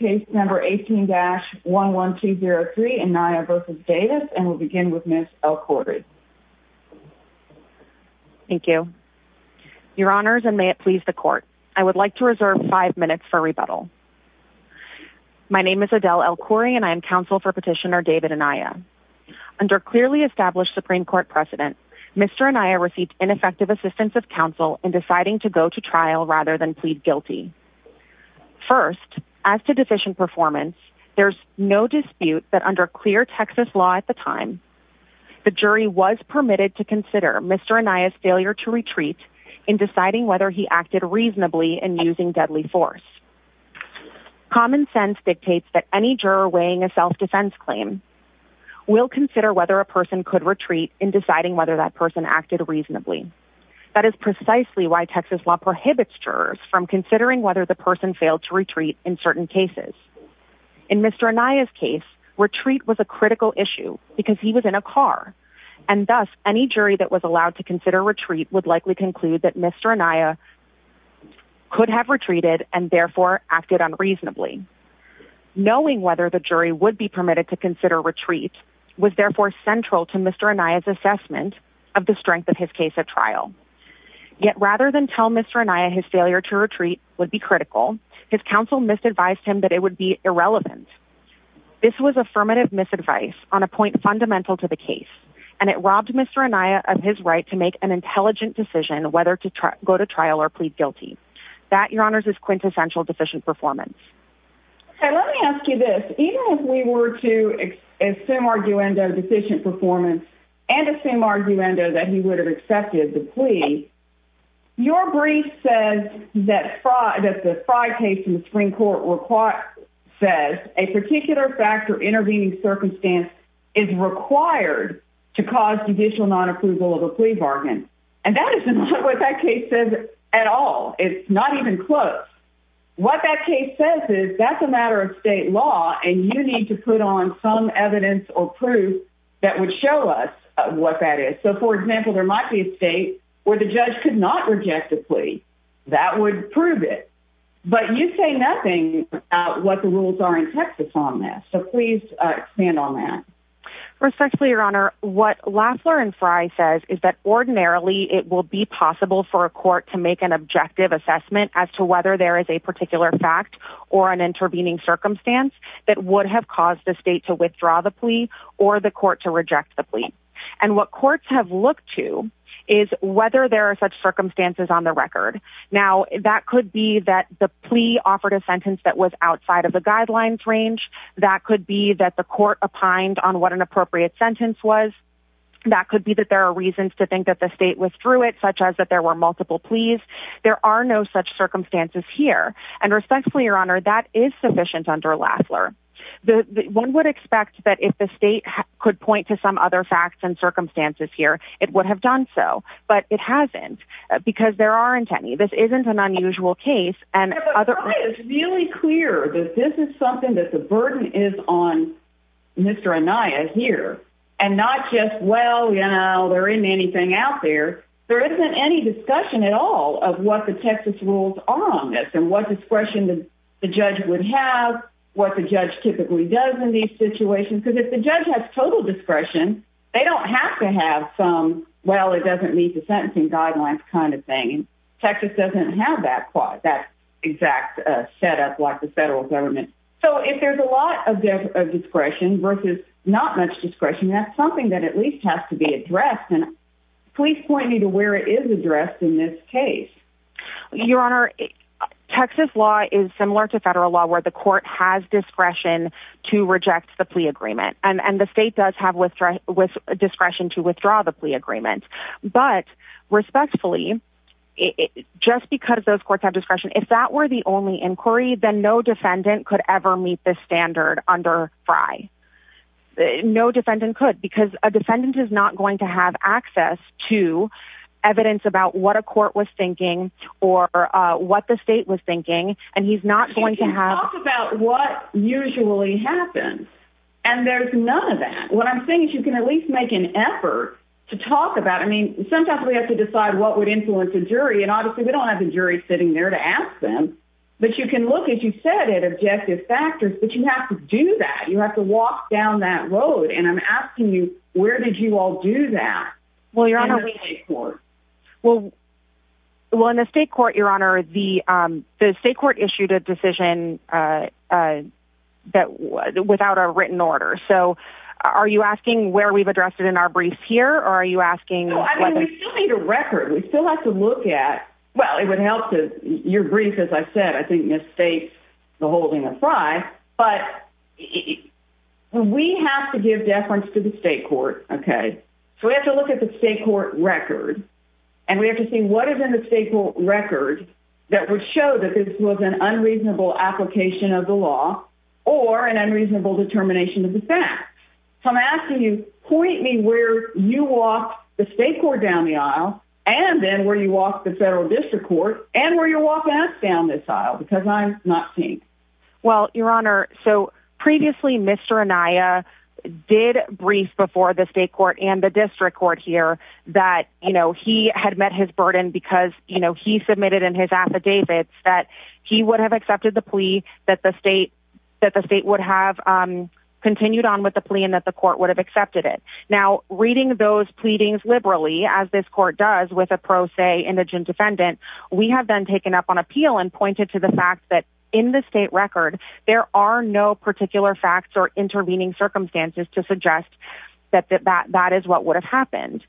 Case Number 18-11203, Anaya v. Davis, and we'll begin with Ms. El-Khoury. Thank you, your honors, and may it please the court. I would like to reserve five minutes for rebuttal. My name is Adele El-Khoury and I am counsel for petitioner David Anaya. Under clearly established Supreme court precedent, Mr. Anaya received ineffective assistance of counsel in deciding to go to trial rather than plead guilty. First, as to deficient performance, there's no dispute that under clear Texas law at the time, the jury was permitted to consider Mr. Anaya's failure to retreat in deciding whether he acted reasonably and using deadly force. Common sense dictates that any juror weighing a self-defense claim will consider whether a person could retreat in deciding whether that person acted reasonably. That is precisely why Texas law prohibits jurors from considering whether the person failed to retreat in certain cases. In Mr. Anaya's case, retreat was a critical issue because he was in a car and thus any jury that was allowed to consider retreat would likely conclude that Mr. Anaya could have retreated and therefore acted unreasonably. Knowing whether the jury would be permitted to consider retreat was therefore central to Mr. Anaya's assessment of the strength of his case at trial. Yet rather than tell Mr. Anaya, his failure to retreat would be critical. His counsel misadvised him that it would be irrelevant. This was affirmative misadvice on a point fundamental to the case, and it robbed Mr. Anaya of his right to make an intelligent decision, whether to go to trial or plead guilty. That your honors is quintessential deficient performance. Okay. Let me ask you this. Even if we were to assume arguendo deficient performance and assume arguendo that he would have accepted the plea, your brief says that the Frey case in the Supreme Court says a particular factor intervening circumstance is required to cause judicial non-approval of a plea bargain. And that is not what that case says at all. It's not even close. What that case says is that's a matter of state law and you need to put on some evidence or proof that would show us what that is. So for example, there might be a state where the judge could not reject a plea that would prove it. But you say nothing about what the rules are in Texas on this. So please expand on that. Respectfully, your honor. What Lafler and Frye says is that ordinarily it will be possible for a particular fact or an intervening circumstance that would have caused the state to withdraw the plea or the court to reject the plea and what courts have looked to is whether there are such circumstances on the record. Now that could be that the plea offered a sentence that was outside of the guidelines range. That could be that the court opined on what an appropriate sentence was. That could be that there are reasons to think that the state was through it, such as that there were multiple pleas. There are no such circumstances here and respectfully, your honor, that is sufficient under Lafler. The one would expect that if the state could point to some other facts and circumstances here, it would have done so, but it hasn't because there aren't any, this isn't an unusual case and other really clear that this is something that the burden is on Mr. Anaya here and not just, well, you know, there isn't anything out there. There isn't any discussion at all of what the Texas rules are on this and what discretion the judge would have, what the judge typically does in these situations, because if the judge has total discretion, they don't have to have some, well, it doesn't meet the sentencing guidelines kind of thing. Texas doesn't have that exact setup like the federal government. So if there's a lot of discretion versus not much discretion, that's something that at least has to be addressed. Please point me to where it is addressed in this case. Your honor, Texas law is similar to federal law where the court has discretion to reject the plea agreement. And the state does have withdrawn with discretion to withdraw the plea agreement, but respectfully, just because those courts have discretion, if that were the only inquiry, then no defendant could ever meet this standard under fry. No defendant could, because a defendant is not going to have access to evidence about what a court was thinking or, uh, what the state was thinking. And he's not going to have about what usually happens. And there's none of that. What I'm saying is you can at least make an effort to talk about, I mean, sometimes we have to decide what would influence a jury and obviously we don't have the jury sitting there to ask them, but you can look, as you said, at objective factors, but you have to do that. You have to walk down that road. And I'm asking you, where did you all do that? Well, you're on a court. Well, well, in the state court, your honor, the, um, the state court issued a decision, uh, uh, that was without a written order. So are you asking where we've addressed it in our briefs here? Or are you asking a record? We still have to look at, well, it would help to your brief. As I said, I think the state, the holding of fry, but we have to give deference to the state court. Okay. So we have to look at the state court record and we have to see what is in the state record that would show that this was an unreasonable application of the law or an unreasonable determination of the facts. So I'm asking you point me where you walk the state court down the aisle and then where you walk the federal district court and where you're walking us down this aisle, because I'm not. Well, your honor. So previously, Mr. Anaya did brief before the state court and the district court here that, you know, he had met his burden because, you know, he submitted in his affidavits that he would have accepted the plea that the state, that the state would have, um, continued on with the plea and that the court would have accepted it. Now reading those pleadings liberally, as this court does with a pro se indigent defendant, we have then taken up on appeal and pointed to the fact that in the state record, there are no particular facts or intervening circumstances to suggest that, that, that, that is what would have happened.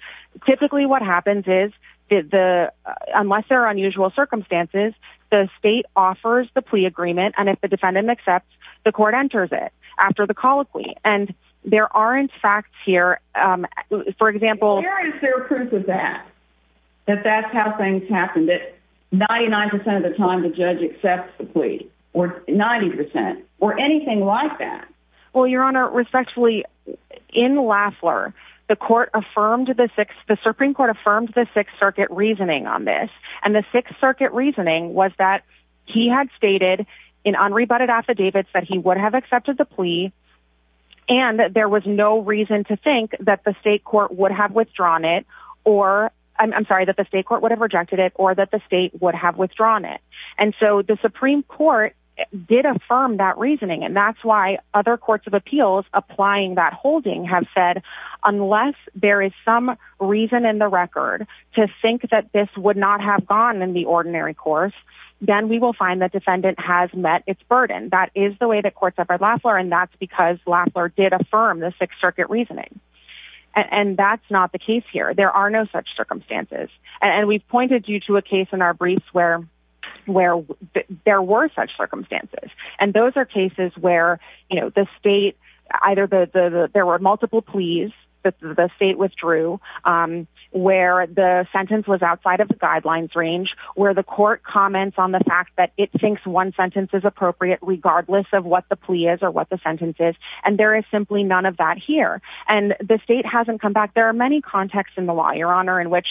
Typically what happens is the, unless there are unusual circumstances, the state offers the plea agreement. And if the defendant accepts the court enters it after the colloquy and there aren't facts here. For example, that's how things happen. That 99% of the time, the judge accepts the plea or 90% or anything like that. Well, your honor respectfully in Lafler, the court affirmed the six, the Supreme court affirmed the sixth circuit reasoning on this and the sixth circuit reasoning was that he had stated in unrebutted affidavits that he would have accepted the plea and that there was no reason to think that the state court would have withdrawn it or I'm sorry that the state court would have rejected it or that the state would have withdrawn it. And so the Supreme court did affirm that reasoning and that's why other courts of appeals applying that holding have said, unless there is some reason in the record to think that this would not have gone in the ordinary course, then we will find that defendant has met its burden. That is the way that courts have heard Lafler and that's because Lafler did affirm the sixth circuit reasoning. And that's not the case here. There are no such circumstances. And we've pointed you to a case in our briefs where, where there were such circumstances and those are cases where, you know, the state either the, the, the, there were multiple pleas that the state withdrew, um, where the sentence was outside of the guidelines range where the court comments on the fact that it thinks one sentence is appropriate regardless of what the plea is or what the sentence is. And there is simply none of that here. And the state hasn't come back. There are many contexts in the law, your honor, in which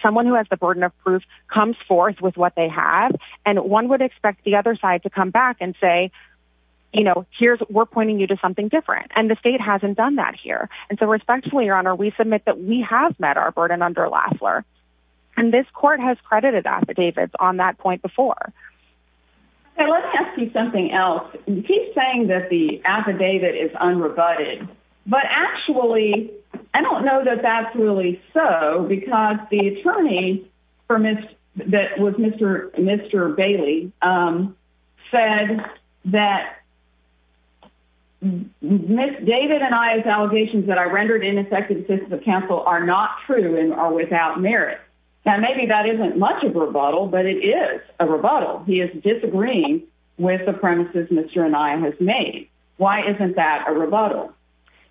someone who has the burden of proof comes forth with what they have. And one would expect the other side to come back and say, you know, here's, we're pointing you to something different and the state hasn't done that here. And so respectfully, your honor, we submit that we have met our burden under Lafler and this court has credited affidavits on that point before. Okay. Let me ask you something else. You keep saying that the affidavit is unrebutted, but actually I don't know that that's really so because the attorney. For Ms. That was Mr. Mr. Bailey, um, said that. Ms. David and I, as allegations that I rendered ineffective since the council are not true and are without merit. Now, maybe that isn't much of a rebuttal, but it is a rebuttal. He is disagreeing with the premises. Mr. And I have made. Why isn't that a rebuttal?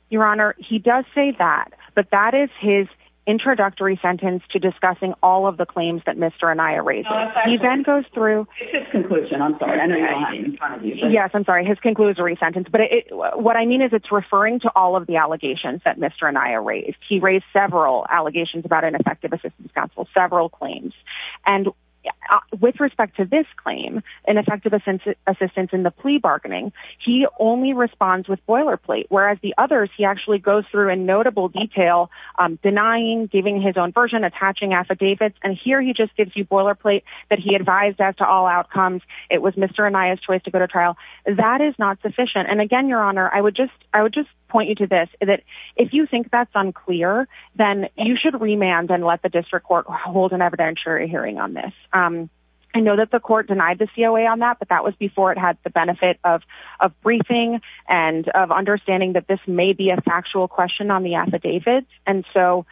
Your honor. He does say that, but that is his introductory sentence to discussing all of the claims that Mr. And I erased, he then goes through his conclusion. I'm sorry. Yes. I'm sorry. His conclusory sentence, but what I mean is it's referring to all of the allegations that Mr. And I erased, he raised several allegations about an effective assistance council, several claims. And with respect to this claim and effective assistance in the plea bargaining, he only responds with boilerplate, whereas the others, he actually goes through a notable detail, um, denying, giving his own version, attaching affidavits. And here he just gives you boilerplate that he advised as to all outcomes. It was Mr. And I, as choice to go to trial, that is not sufficient. And again, your honor, I would just, I would just point you to this, that if you think that's unclear, then you should remand and let the hearing on this. Um, I know that the court denied the COA on that, but that was before it had the benefit of, of briefing and of understanding that this may be a factual question on the affidavits. And so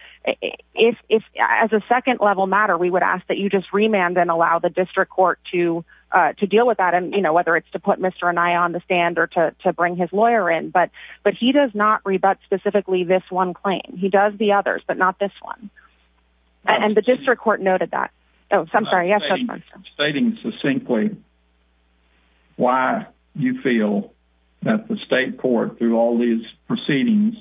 if, if as a second level matter, we would ask that you just remand and allow the district court to, uh, to deal with that. And, you know, whether it's to put Mr. And I on the stand or to bring his lawyer in, but, but he does not rebut specifically this one claim he does the others, but not this one. And the district court noted that. Oh, I'm sorry. Yes. Stating succinctly why you feel that the state court through all these proceedings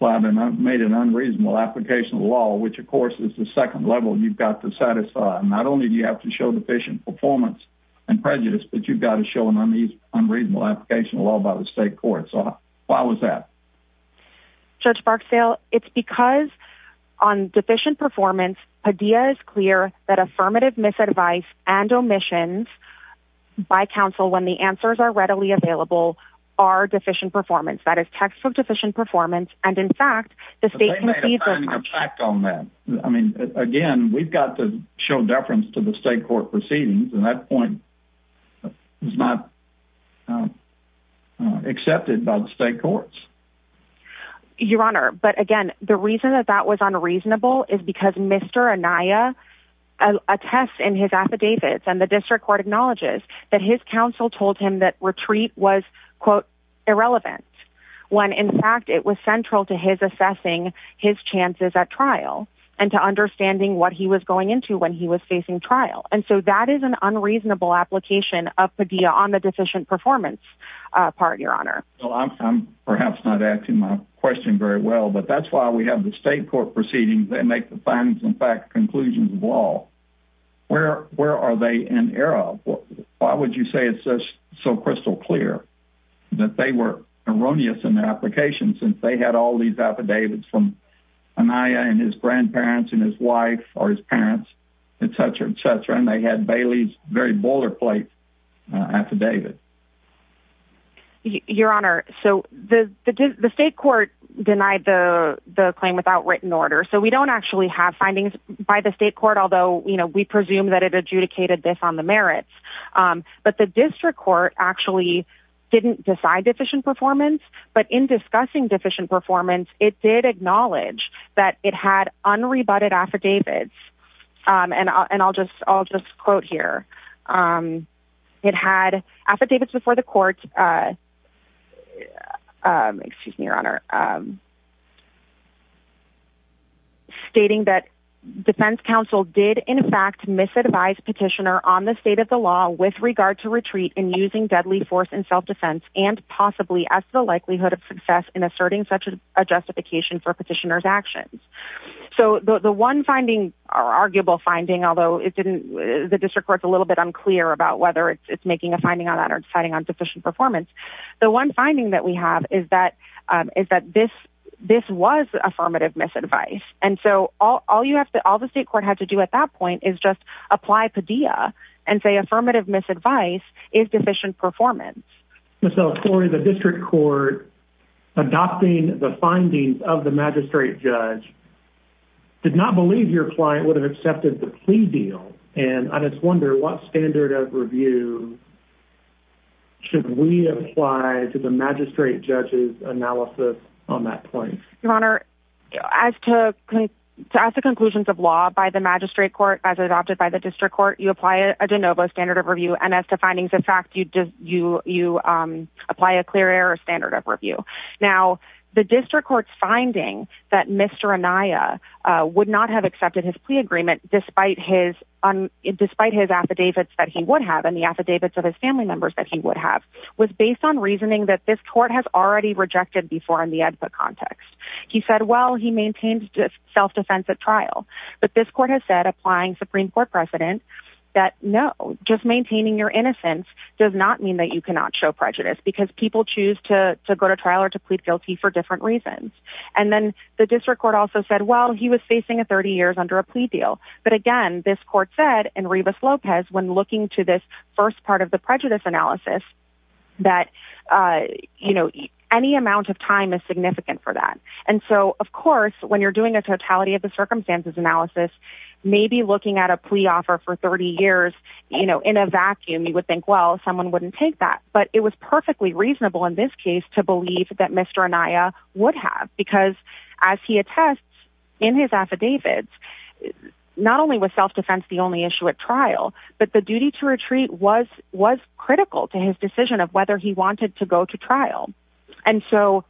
made an unreasonable application of law, which of course is the second level you've got to satisfy. Not only do you have to show deficient performance and prejudice, but you've got to show an unreasonable application of law by the state court. So why was that church Barksdale? It's because on deficient performance idea is clear that affirmative misadvice and omissions by council, when the answers are readily available, are deficient performance. That is textbook deficient performance. And in fact, the state I mean, again, we've got to show deference to the state court proceedings and that point is not, um, uh, accepted by the state courts. Your honor. But again, the reason that that was unreasonable is because Mr. Anaya, uh, a test in his affidavits and the district court acknowledges that his council told him that retreat was quote irrelevant when in fact it was central to his assessing his chances at trial and to understanding what he was going into when he was facing trial. And so that is an unreasonable application of Padilla on the deficient performance, uh, part of your honor. Well, I'm, I'm perhaps not asking my question very well, but that's why we have the state court proceedings that make the findings in fact, conclusions of all, where, where are they in era? Why would you say it's such so crystal clear that they were erroneous in their applications since they had all these affidavits from Anaya and his grandparents and his wife or his parents, et cetera, et cetera. And they had Bailey's very boiler plate. Uh, affidavit. Your honor. So the, the, the state court denied the claim without written order. So we don't actually have findings by the state court. Although, you know, we presume that it adjudicated this on the merits, um, but the district court actually didn't decide deficient performance, but in discussing deficient performance, it did acknowledge that it had unrebutted affidavits, um, and I'll, and I'll just, I'll just quote here. Um, it had affidavits before the court, uh, um, excuse me, your honor. Um, stating that defense council did in fact, misadvised petitioner on the state of the law with regard to retreat and using deadly force in self-defense and possibly as the likelihood of success in asserting such as a justification for petitioner's actions. So the one finding are arguable finding, although it didn't, the district court's a little bit unclear about whether it's making a finding on that or deciding on deficient performance. The one finding that we have is that, um, is that this, this was affirmative misadvice. And so all, all you have to, all the state court had to do at that point is just apply Padilla and say, affirmative misadvice is deficient. So Cory, the district court adopting the findings of the magistrate judge did not believe your client would have accepted the plea deal. And I just wonder what standard of review should we apply to the magistrate judges analysis on that point? Your honor, as to, to ask the conclusions of law by the magistrate court, as adopted by the district court, you apply a DeNovo standard of review. And as to findings, in fact, you, you, you, um, apply a clear error standard of review. Now the district court's finding that Mr. Uh, would not have accepted his plea agreement, despite his, um, despite his affidavits that he would have in the affidavits of his family members that he would have was based on reasoning that this court has already rejected before in the context. He said, well, he maintains self-defense at trial, but this court has said applying Supreme court precedent. That no, just maintaining your innocence does not mean that you cannot show prejudice because people choose to go to trial or to plead guilty for different reasons. And then the district court also said, well, he was facing a 30 years under a plea deal. But again, this court said, and Rebus Lopez, when looking to this first part of the prejudice analysis. That, uh, you know, any amount of time is significant for that. And so of course, when you're doing a totality of the circumstances analysis, maybe looking at a plea offer for 30 years, you know, in a vacuum, you would think, well, someone wouldn't take that, but it was because as he attests in his affidavits, not only with self-defense, the only issue at trial, but the duty to retreat was, was critical to his decision of whether he wanted to go to trial. And so.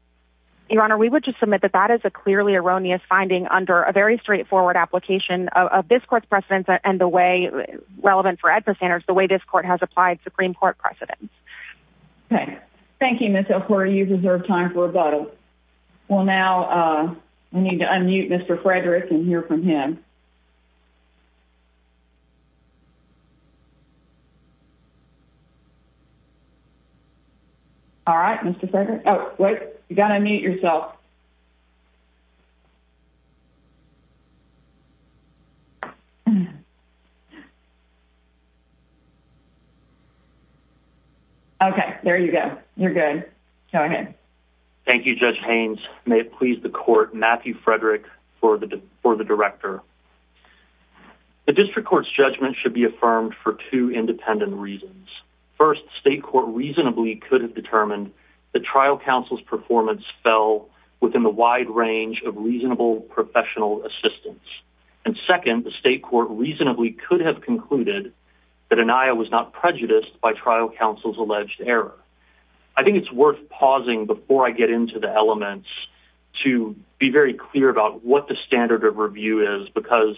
Your honor, we would just submit that that is a clearly erroneous finding under a very straightforward application of this court's precedents and the way relevant for adverse standards, the way this court has applied Supreme court precedents. Okay. Thank you, Mr. Horry. You deserve time for a bottle. Well, now, uh, we need to unmute Mr. Frederick and hear from him. All right, Mr. Frederick. Oh, wait, you got to unmute yourself. Okay. There you go. You're good. Go ahead. Thank you, judge Haynes. May it please the court, Matthew Frederick for the, for the director. The district court's judgment should be affirmed for two independent reasons. First state court reasonably could have determined the trial counsel's performance fell within the wide range of reasonable professional assistance. And second, the state court reasonably could have concluded that an IO was not prejudiced by trial counsel's alleged error. I think it's worth pausing before I get into the elements to be very clear about what the standard of review is because,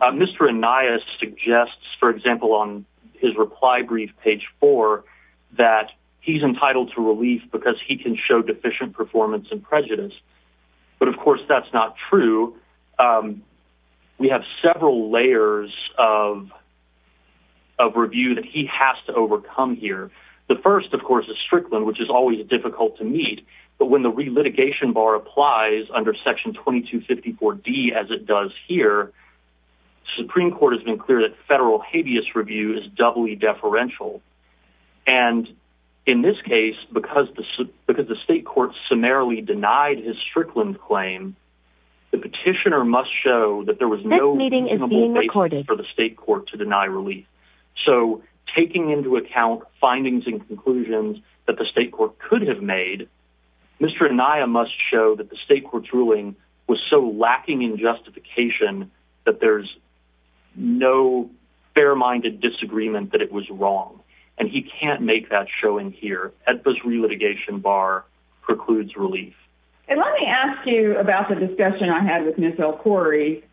uh, Mr. Anais suggests, for example, on his reply brief page four, that he's entitled to relief because he can show deficient performance and prejudice. But of course that's not true. Um, we have several layers of, of review that he has to overcome here. The first of course is Strickland, which is always difficult to meet, but when the re-litigation bar applies under section 2254 D as it does here, Supreme court has been clear that federal habeas review is doubly deferential. And in this case, because the, because the state court summarily denied his Strickland claim. The petitioner must show that there was no meeting for the state court to deny relief. So taking into account findings and conclusions that the state court could have made, Mr. Anaya must show that the state court's ruling was so lacking in justification that there's no fair-minded disagreement that it was wrong. And he can't make that showing here at this re-litigation bar precludes relief. And let me ask you about the discussion I had with Ms. Corey.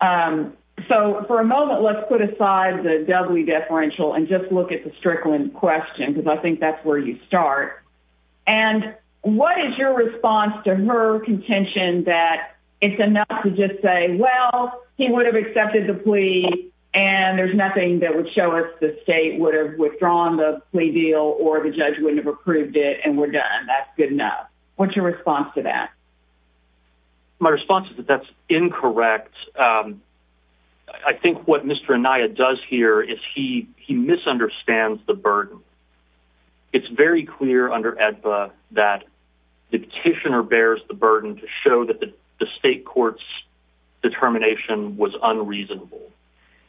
Um, so for a moment, let's put aside the doubly deferential and just look at the Strickland question. Cause I think that's where you start and what is your response to her contention that it's enough to just say, well, he would have accepted the plea and there's nothing that would show us the state would have withdrawn the plea deal or the judge wouldn't have approved it and we're done. That's good enough. What's your response to that? My response is that that's incorrect. Um, I think what Mr. Anaya does here is he, he misunderstands the burden. It's very clear under EDPA that the petitioner bears the burden to show that the state court's determination was unreasonable.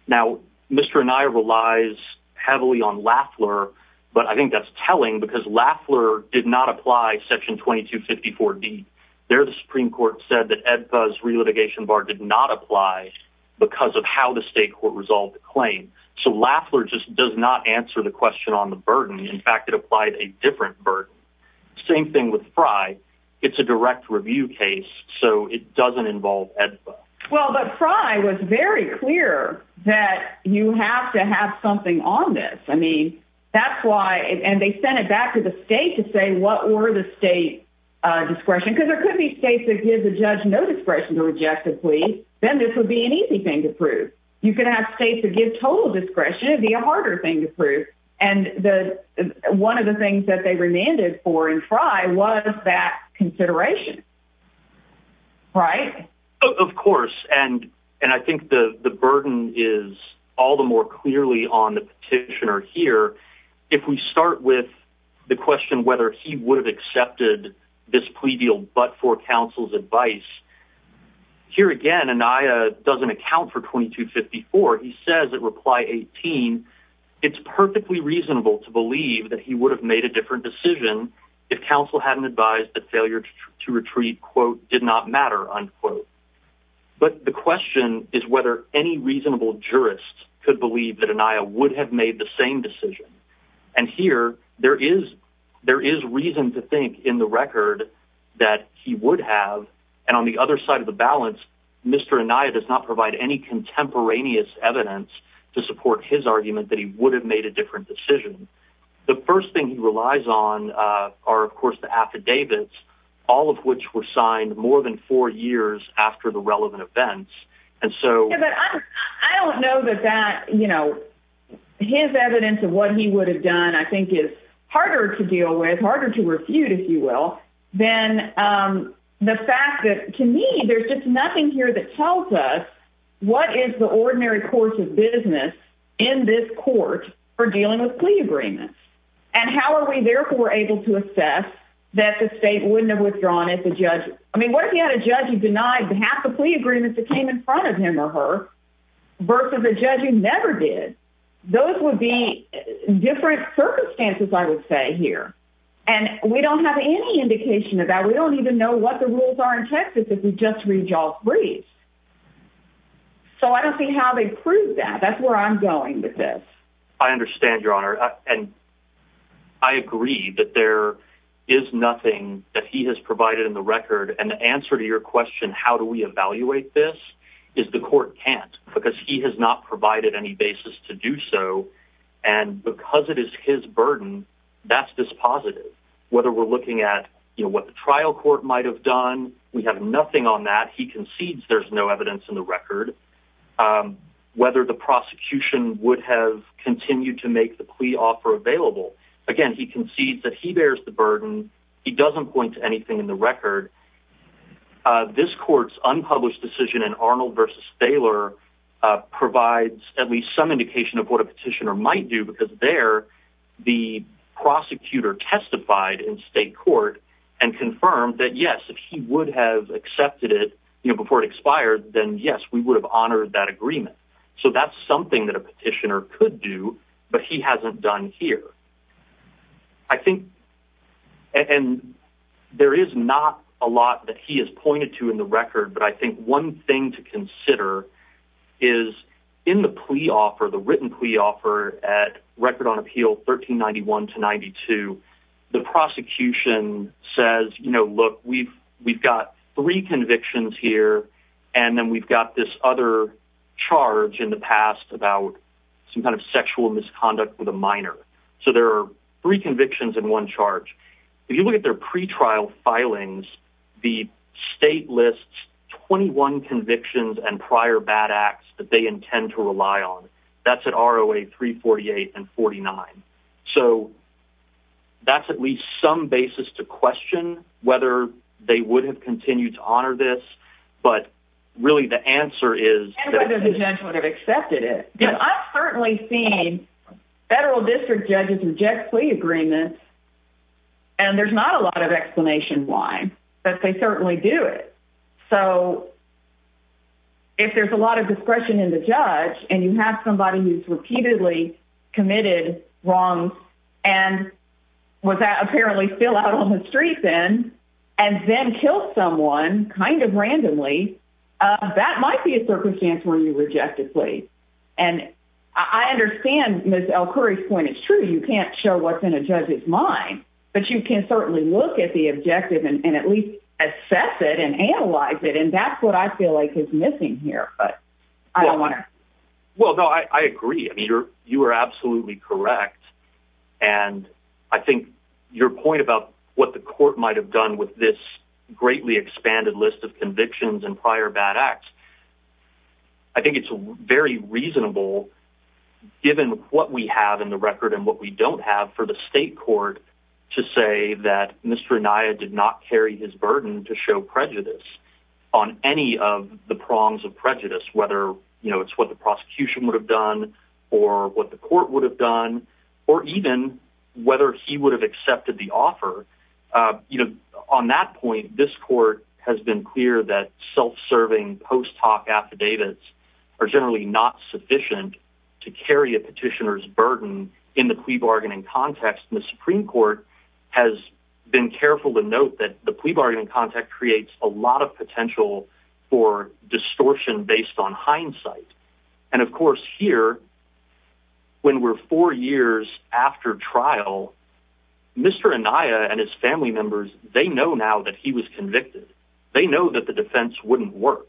Now, Mr. Anaya relies heavily on Lafleur, but I think that's telling because Lafleur did not apply section 2254 D. There, the Supreme court said that EDPAs relitigation bar did not apply because of how the state court resolved the claim. So Lafleur just does not answer the question on the burden. In fact, it applied a different burden. Same thing with Frye. It's a direct review case, so it doesn't involve EDPA. Well, but Frye was very clear that you have to have something on this. I mean, that's why, and they sent it back to the state to say what were the state discretion, because there could be states that give the judge no discretion to reject the plea. Then this would be an easy thing to prove. You can have states to give total discretion. It'd be a harder thing to prove. And the, one of the things that they remanded for in Frye was that consideration. Right. Of course. And, and I think the, the burden is all the more clearly on the petitioner here. If we start with the question, whether he would have accepted this plea deal, but for counsel's advice here again, and I doesn't account for 2254. He says that reply 18, it's perfectly reasonable to believe that he would have made a different decision if counsel hadn't advised that failure to retreat quote did not matter. Unquote, but the question is whether any reasonable jurists could believe that Anaya would have made the same decision and here there is. There is reason to think in the record that he would have. And on the other side of the balance, Mr. Anaya does not provide any contemporaneous evidence to support his argument that he would have made a different decision. The first thing he relies on are of course, the affidavits, all of which were signed more than four years after the relevant events. And so I don't know that that, you know, his evidence of what he would have done, I think is harder to deal with, harder to refute if you will, then, um, the fact that to me, there's just nothing here that tells us what is the ordinary course of business in this court for dealing with plea agreements. And how are we therefore able to assess that the state wouldn't have withdrawn at the judge? I mean, what if he had a judge who denied the half of the plea in front of him or her versus a judge who never did? Those would be different circumstances. I would say here, and we don't have any indication of that. We don't even know what the rules are in Texas. If we just read y'all's briefs. So I don't see how they prove that that's where I'm going with this. I understand your honor. And I agree that there is nothing that he has provided in the record. And the answer to your question, how do we evaluate this? Is the court can't because he has not provided any basis to do so. And because it is his burden. That's this positive, whether we're looking at, you know, what the trial court might've done. We have nothing on that. He concedes there's no evidence in the record, um, whether the prosecution would have continued to make the plea offer available. Again, he concedes that he bears the burden. He doesn't point to anything in the record. Uh, this court's unpublished decision in Arnold versus Baylor, uh, provides at least some indication of what a petitioner might do because they're. The prosecutor testified in state court and confirmed that yes, if he would have accepted it, you know, before it expired, then yes, we would have honored that agreement. So that's something that a petitioner could do, but he hasn't done here. I think, and there is not a lot that he has pointed to in the record, but I think one thing to consider is in the plea offer, the written plea offer at record on appeal, 1391 to 92. The prosecution says, you know, look, we've, we've got three convictions here. And then we've got this other charge in the past about some kind of sexual misconduct with a minor. So there are three convictions in one charge. If you look at their pretrial filings, the state lists 21 convictions and prior bad acts that they intend to rely on. That's an ROA three 48 and 49. So that's at least some basis to question whether they would have continued to honor this. But really the answer is I've accepted it. Yeah, I've certainly seen federal district judges reject plea agreements. And there's not a lot of explanation why, but they certainly do it. So if there's a lot of discretion in the judge and you have somebody who's repeatedly committed wrong, and was that apparently still out on the street and then kill someone kind of randomly, uh, that might be a circumstance where you rejected plea. And I understand Ms. L Curry's point. It's true. You can't show what's in a judge's mind, but you can certainly look at the objective and at least assess it and analyze it. And that's what I feel like is missing here, but I don't want to. Well, no, I agree. I mean, you're, you are absolutely correct. And I think your point about what the court might've done with this greatly expanded list of convictions and prior bad acts, I think it's very reasonable. Given what we have in the record and what we don't have for the state court to say that Mr. Naya did not carry his burden to show prejudice on any of the prongs of prejudice, whether, you know, it's what the prosecution would have done or what the court would have done, or even whether he would have accepted the offer. Uh, you know, on that point, this court has been clear that self-serving post-talk affidavits are generally not sufficient to carry a petitioner's burden in the plea bargaining context and the Supreme court has been careful to note that the plea bargaining context creates a lot of potential for distortion based on when we're four years after trial, Mr. Anaya and his family members, they know now that he was convicted. They know that the defense wouldn't work.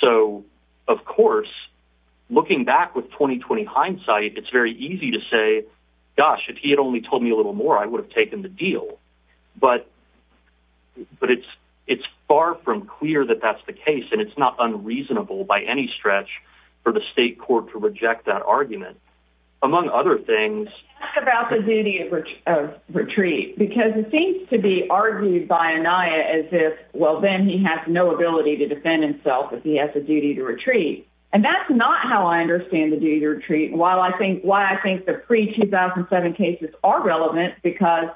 So of course, looking back with 20, 20 hindsight, it's very easy to say, gosh, if he had only told me a little more, I would have taken the deal, but, but it's, it's far from clear that that's the case. And it's not unreasonable by any stretch for the state court to reject that among other things about the duty of, of retreat, because it seems to be argued by Anaya as if, well, then he has no ability to defend himself if he has a duty to retreat. And that's not how I understand the duty to retreat. And while I think, why I think the pre 2007 cases are relevant, because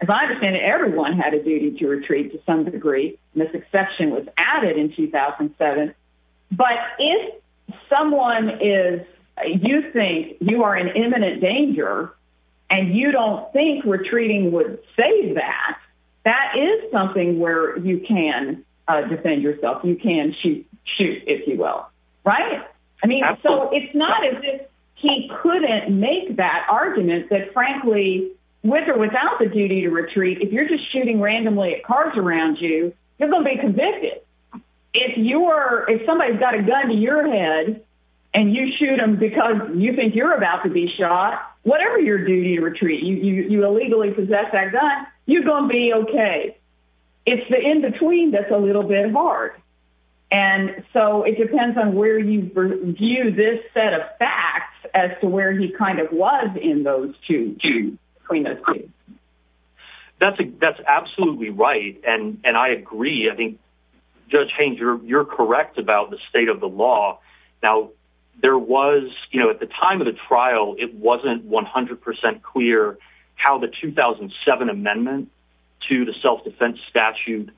as I understand it, everyone had a duty to retreat to some degree. And this exception was added in 2007. But if someone is, you think you are in imminent danger and you don't think we're treating would say that, that is something where you can defend yourself. You can shoot, shoot if you will. Right. I mean, so it's not as if he couldn't make that argument that frankly, with or without the duty to retreat, if you're just shooting randomly at cars around you, you're going to be convicted. If you are, if somebody's got a gun to your head and you shoot them because you think you're about to be shot, whatever your duty to retreat, you, you, you illegally possess that gun. You're going to be okay. It's the in-between that's a little bit hard. And so it depends on where you view this set of facts as to where he kind of was in those two, two. That's a, that's absolutely right. And, and I agree, I think judge Haines, you're, you're correct about the state of the law. Now there was, you know, at the time of the trial, it wasn't 100% clear how the 2007 amendment to the self-defense statute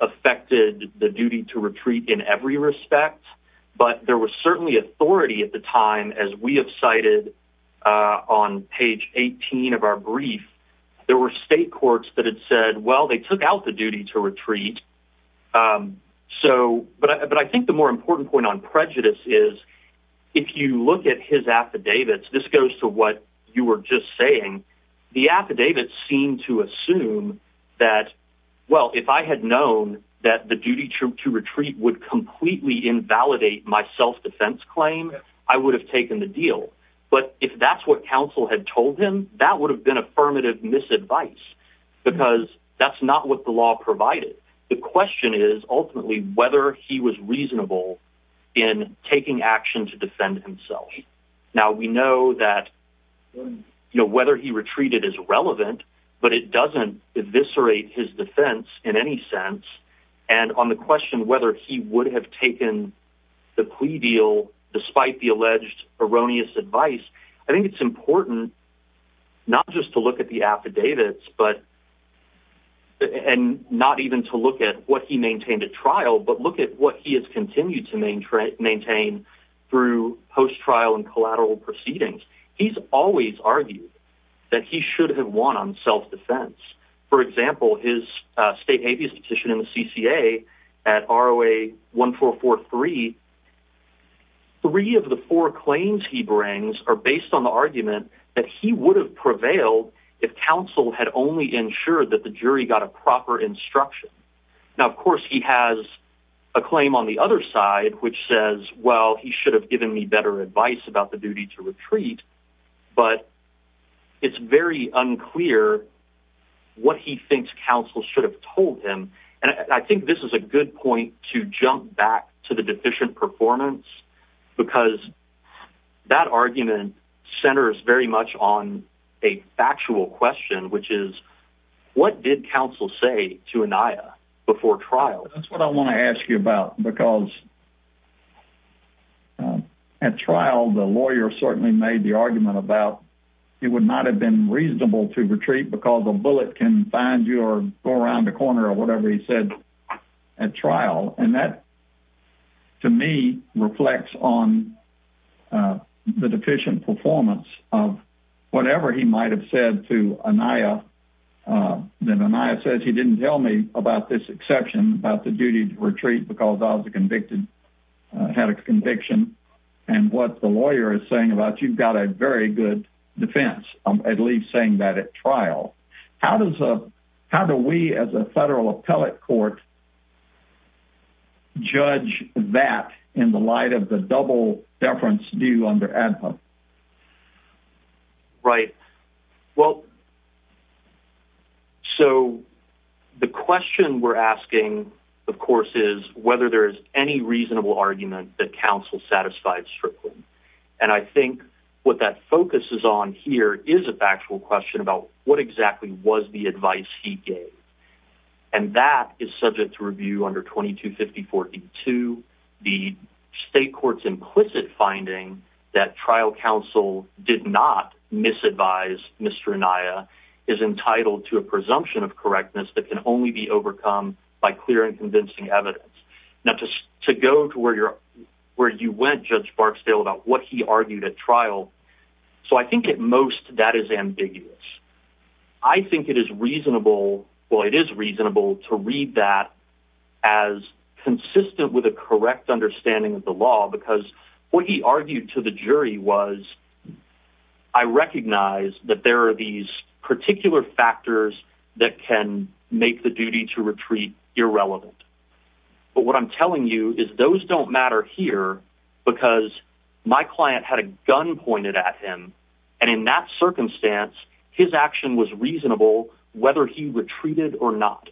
affected the duty to retreat in every respect, but there was certainly authority at the time, as we have cited, uh, on page 18 of our brief, there were state courts that said, well, they took out the duty to retreat. Um, so, but I, but I think the more important point on prejudice is if you look at his affidavits, this goes to what you were just saying, the affidavits seem to assume that, well, if I had known that the duty to retreat would completely invalidate my self-defense claim, I would have taken the deal. But if that's what counsel had told him, that would have been affirmative misadvice because that's not what the law provided. The question is ultimately whether he was reasonable in taking action to defend himself. Now we know that, you know, whether he retreated is relevant, but it doesn't eviscerate his defense in any sense. And on the question, whether he would have taken the plea deal, despite the alleged erroneous advice, I think it's important not just to look at the affidavits, but, and not even to look at what he maintained at trial, but look at what he has continued to maintain through post-trial and collateral proceedings. He's always argued that he should have won on self-defense. For example, his state habeas petition in the CCA at ROA 1443, three of the four claims he brings are based on the argument that he would have counsel had only ensured that the jury got a proper instruction. Now, of course he has a claim on the other side, which says, well, he should have given me better advice about the duty to retreat, but it's very unclear what he thinks counsel should have told him. And I think this is a good point to jump back to the deficient performance because that argument centers very much on a factual question, which is what did counsel say to Aniya before trial? That's what I want to ask you about, because at trial, the lawyer certainly made the argument about, it would not have been reasonable to retreat because a bullet can find you or go around the corner or whatever he said at trial. And that to me reflects on the deficient performance of whatever he might've said to Aniya, that Aniya says, he didn't tell me about this exception about the duty to retreat because I was a convicted, had a conviction and what the lawyer is saying about, you've got a very good defense. I'm at least saying that at trial, how does a, how do we as a federal appellate court judge that in the light of the double deference do under ad hoc? Right. Well, so the question we're asking of course, is whether there's any reasonable argument that counsel satisfied strictly, and I think what that focuses on here is a factual question about what exactly was the that is subject to review under 22 50 42, the state court's implicit finding that trial counsel did not misadvise Mr. Aniya is entitled to a presumption of correctness that can only be overcome by clear and convincing evidence. Now, just to go to where you're, where you went, judge Barksdale about what he argued at trial. So I think at most that is ambiguous. I think it is reasonable. Well, it is reasonable to read that as consistent with a correct understanding of the law, because what he argued to the jury was, I recognize that there are these particular factors that can make the duty to retreat. You're relevant. But what I'm telling you is those don't matter here because my client had a gun pointed at him. And in that circumstance, his action was reasonable whether he retreated or not.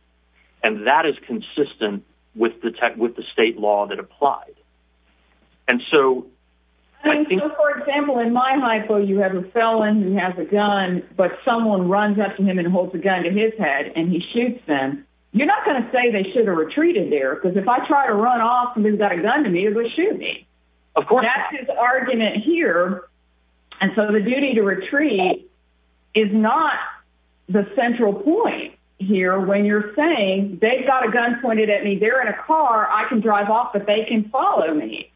And that is consistent with the tech, with the state law that applied. And so, I think, for example, in my high school, you have a felon who has a gun, but someone runs up to him and holds a gun to his head and he shoots them. You're not going to say they should have retreated there. Cause if I try to run off and then got a gun to me, it was shooting me. Of course, that's his argument here. And so the duty to retreat is not the central point here when you're saying they've got a gun pointed at me, they're in a car I can drive off, but they can follow me,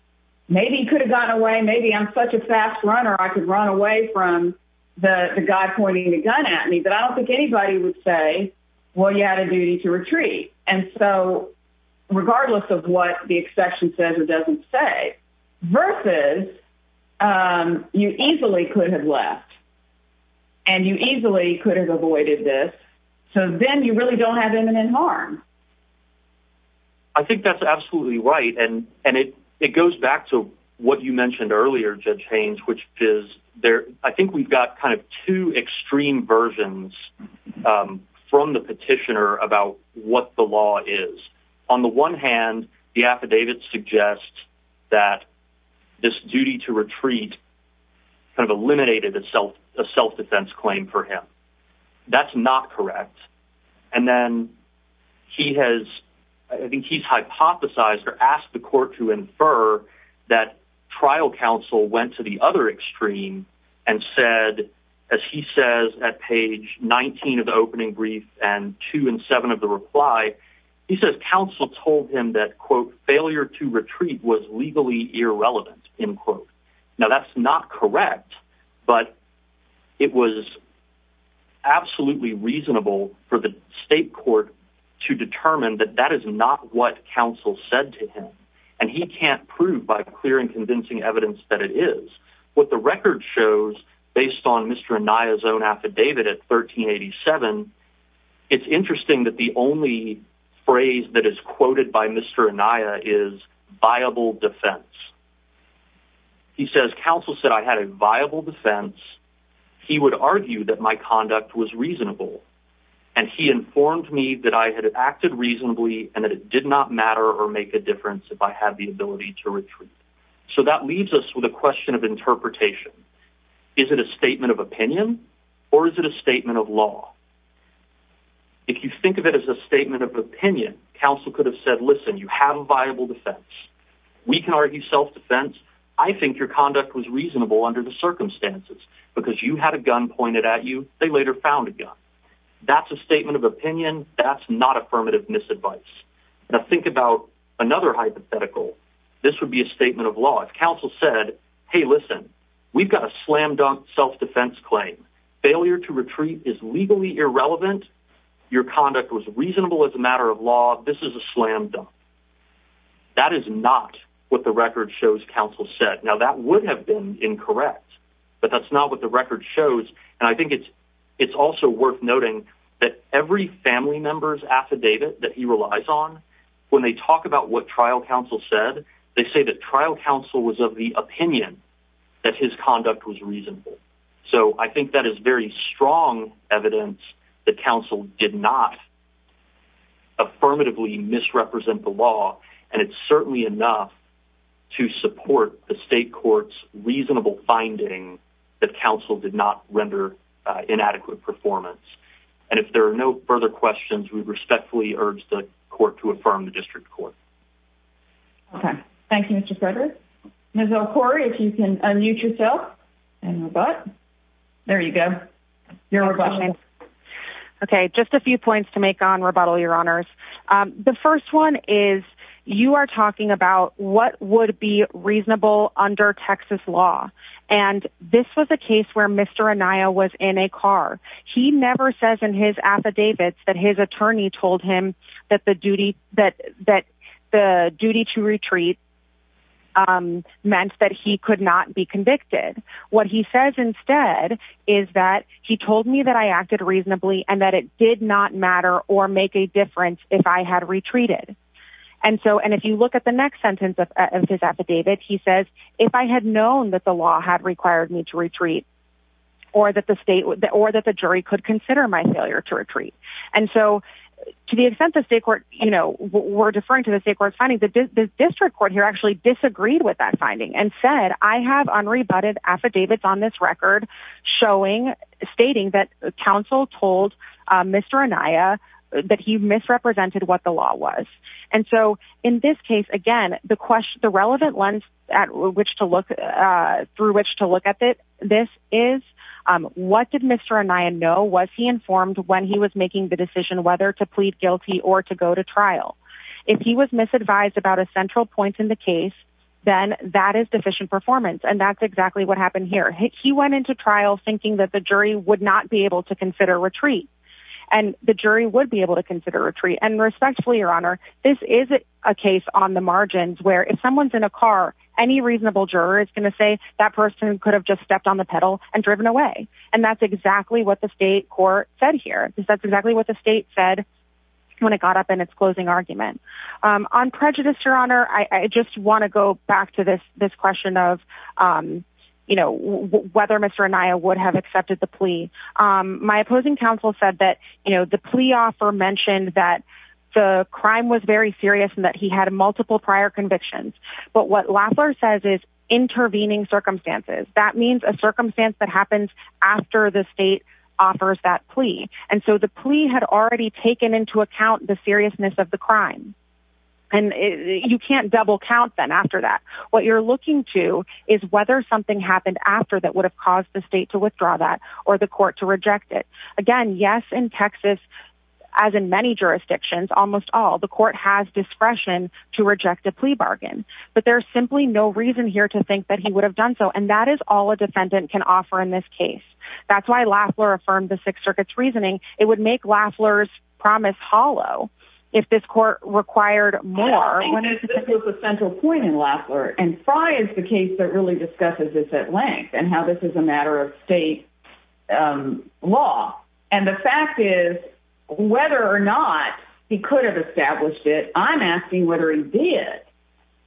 maybe could have gotten away. Maybe I'm such a fast runner. I could run away from the guy pointing the gun at me, but I don't think anybody and so regardless of what the exception says, it doesn't say versus, um, you easily could have left and you easily could have avoided this. So then you really don't have imminent harm. I think that's absolutely right. And, and it, it goes back to what you mentioned earlier, judge Haynes, which is there. I think we've got kind of two extreme versions, um, from the petitioner about what the law is on the one hand, the affidavit suggests that this duty to retreat kind of eliminated itself, a self-defense claim for him. That's not correct. And then he has, I think he's hypothesized or asked the court to infer that trial counsel went to the other extreme and said, as he says at 19 of the opening brief and two and seven of the reply, he says, counsel told him that quote, failure to retreat was legally irrelevant in quote. Now that's not correct, but it was absolutely reasonable for the state court to determine that that is not what counsel said to him. And he can't prove by clear and convincing evidence that it is what the Nia's own affidavit at 1387. It's interesting that the only phrase that is quoted by Mr. Anaya is viable defense. He says, counsel said I had a viable defense. He would argue that my conduct was reasonable and he informed me that I had acted reasonably and that it did not matter or make a difference if I had the ability to retreat. So that leaves us with a question of interpretation. Is it a statement of opinion or is it a statement of law? If you think of it as a statement of opinion, counsel could have said, listen, you have a viable defense. We can argue self-defense. I think your conduct was reasonable under the circumstances because you had a gun pointed at you. They later found a gun. That's a statement of opinion. That's not affirmative misadvice. Now think about another hypothetical. This would be a statement of law. Counsel said, Hey, listen, we've got a slam dunk self-defense claim. Failure to retreat is legally irrelevant. Your conduct was reasonable as a matter of law. This is a slam dunk. That is not what the record shows. Counsel said now that would have been incorrect, but that's not what the record shows. And I think it's, it's also worth noting that every family member's affidavit that he relies on when they talk about what trial counsel said, they say that trial counsel was of the opinion that his conduct was reasonable. So I think that is very strong evidence that counsel did not affirmatively misrepresent the law. And it's certainly enough to support the state court's reasonable finding that counsel did not render inadequate performance. And if there are no further questions, we respectfully urge the court to affirm the district court. Okay. Thank you, Mr. Frederick. Ms. El-Khoury, if you can unmute yourself and rebut. There you go. You're on. Okay. Just a few points to make on rebuttal. Your honors. Um, the first one is you are talking about what would be reasonable under Texas law. And this was a case where Mr. Anaya was in a car. He never says in his affidavits that his attorney told him that the duty that, that the duty to retreat, um, meant that he could not be convicted. What he says instead is that he told me that I acted reasonably and that it did not matter or make a difference if I had retreated. And so, and if you look at the next sentence of his affidavit, he says, if I had known that the law had required me to retreat or that the state or that the jury could consider my failure to retreat. And so to the extent that state court, you know, we're deferring to the state court finding that the district court here actually disagreed with that finding and said, I have unrebutted affidavits on this record showing stating that counsel told Mr. Anaya that he misrepresented what the law was. And so in this case, again, the question, the relevant lens at which to look, uh, through which to look at it, this is, um, what did Mr. No, was he informed when he was making the decision, whether to plead guilty or to go to trial, if he was misadvised about a central point in the case, then that is deficient performance. And that's exactly what happened here. He went into trial thinking that the jury would not be able to consider retreat and the jury would be able to consider retreat and respectfully, your honor, this is a case on the margins where if someone's in a car, any reasonable juror is going to say that person could have just stepped on the pedal and driven away. And that's exactly what the state court said here is that's exactly what the state said when it got up in its closing argument, um, on prejudice, your honor. I just want to go back to this, this question of, um, you know, whether Mr. Anaya would have accepted the plea. Um, my opposing counsel said that, you know, the plea offer mentioned that the crime was very serious and that he had multiple prior convictions, but what Lafleur says is intervening circumstances. That means a circumstance that happens after the state offers that plea. And so the plea had already taken into account the seriousness of the crime. And you can't double count. Then after that, what you're looking to is whether something happened after that would have caused the state to withdraw that or the court to reject it again, yes, in Texas, as in many jurisdictions, almost all the court has discretion to reject a plea bargain, but there's simply no reason here to think that he would have done so. And that is all a defendant can offer in this case. That's why Lafleur affirmed the sixth circuit's reasoning. It would make Lafleur's promise hollow. If this court required more central point in Lafleur and fry is the case that really discusses this at length and how this is a matter of state. Um, law. And the fact is whether or not he could have established it, I'm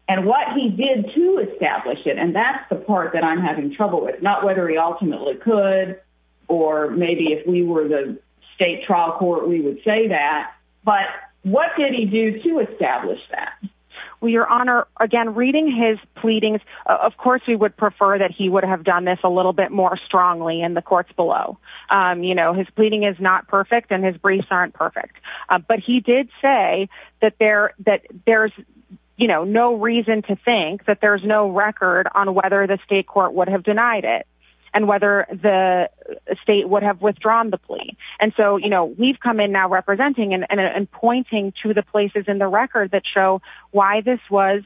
and what he did to establish it. And that's the part that I'm having trouble with, not whether he ultimately could, or maybe if we were the state trial court, we would say that. But what did he do to establish that? Well, your honor, again, reading his pleadings, of course, we would prefer that he would have done this a little bit more strongly in the courts below. Um, you know, his pleading is not perfect and his briefs aren't perfect. But he did say that there, that there's, you know, no reason to think that there's no record on whether the state court would have denied it and whether the state would have withdrawn the plea. And so, you know, we've come in now representing and pointing to the places in the record that show why this was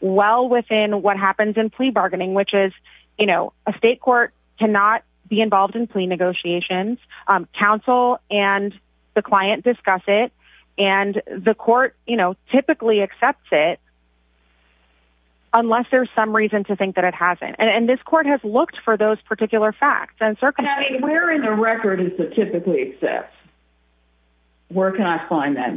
well within what happens in plea bargaining, which is, you know, a state court cannot be involved in plea negotiations, um, counsel and the client discuss it and the court, you know, typically accepts it unless there's some reason to think that it hasn't, and this court has looked for those particular facts and circumstances. Where in the record is the typically except where can I find that?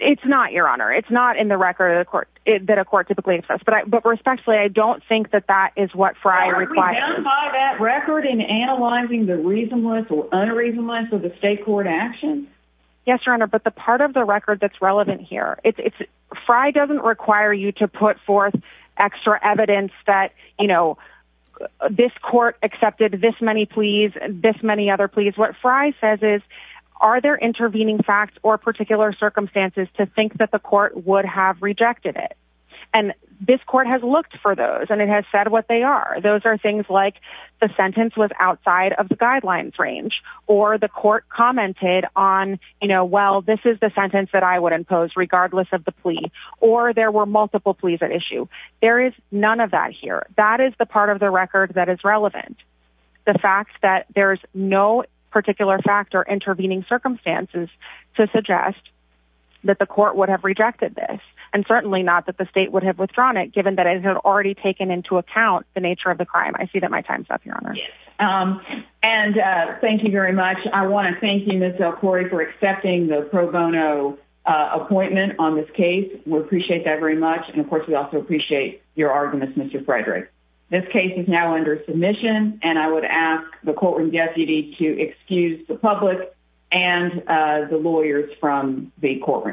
It's not your honor. It's not in the record of the court that a court typically accepts. But I, but respectfully, I don't think that that is what Friar by that record in analyzing the reasonless or unreasonable. And so the state court action. Yes, your honor. But the part of the record that's relevant here, it's, it's Fry doesn't require you to put forth extra evidence that, you know, this court accepted this many, please, this many other, please. What Fry says is, are there intervening facts or particular circumstances to think that the court would have rejected it and this court has looked for those. And it has said what they are. Those are things like the sentence was outside of the guidelines range or the court commented on, you know, well, this is the sentence that I would impose regardless of the plea, or there were multiple pleas at issue. There is none of that here. That is the part of the record that is relevant. The fact that there's no particular factor intervening circumstances to suggest that the court would have rejected this and certainly not that the state would have withdrawn it, given that it had already taken into account the nature of the crime. I see that my time's up, your honor. Um, and, uh, thank you very much. I want to thank you, Ms. El-Khoury for accepting the pro bono, uh, appointment on this case. We appreciate that very much. And of course we also appreciate your arguments, Mr. Frederick, this case is now under submission and I would ask the courtroom deputy to excuse the public and, uh, the lawyers from the courtroom.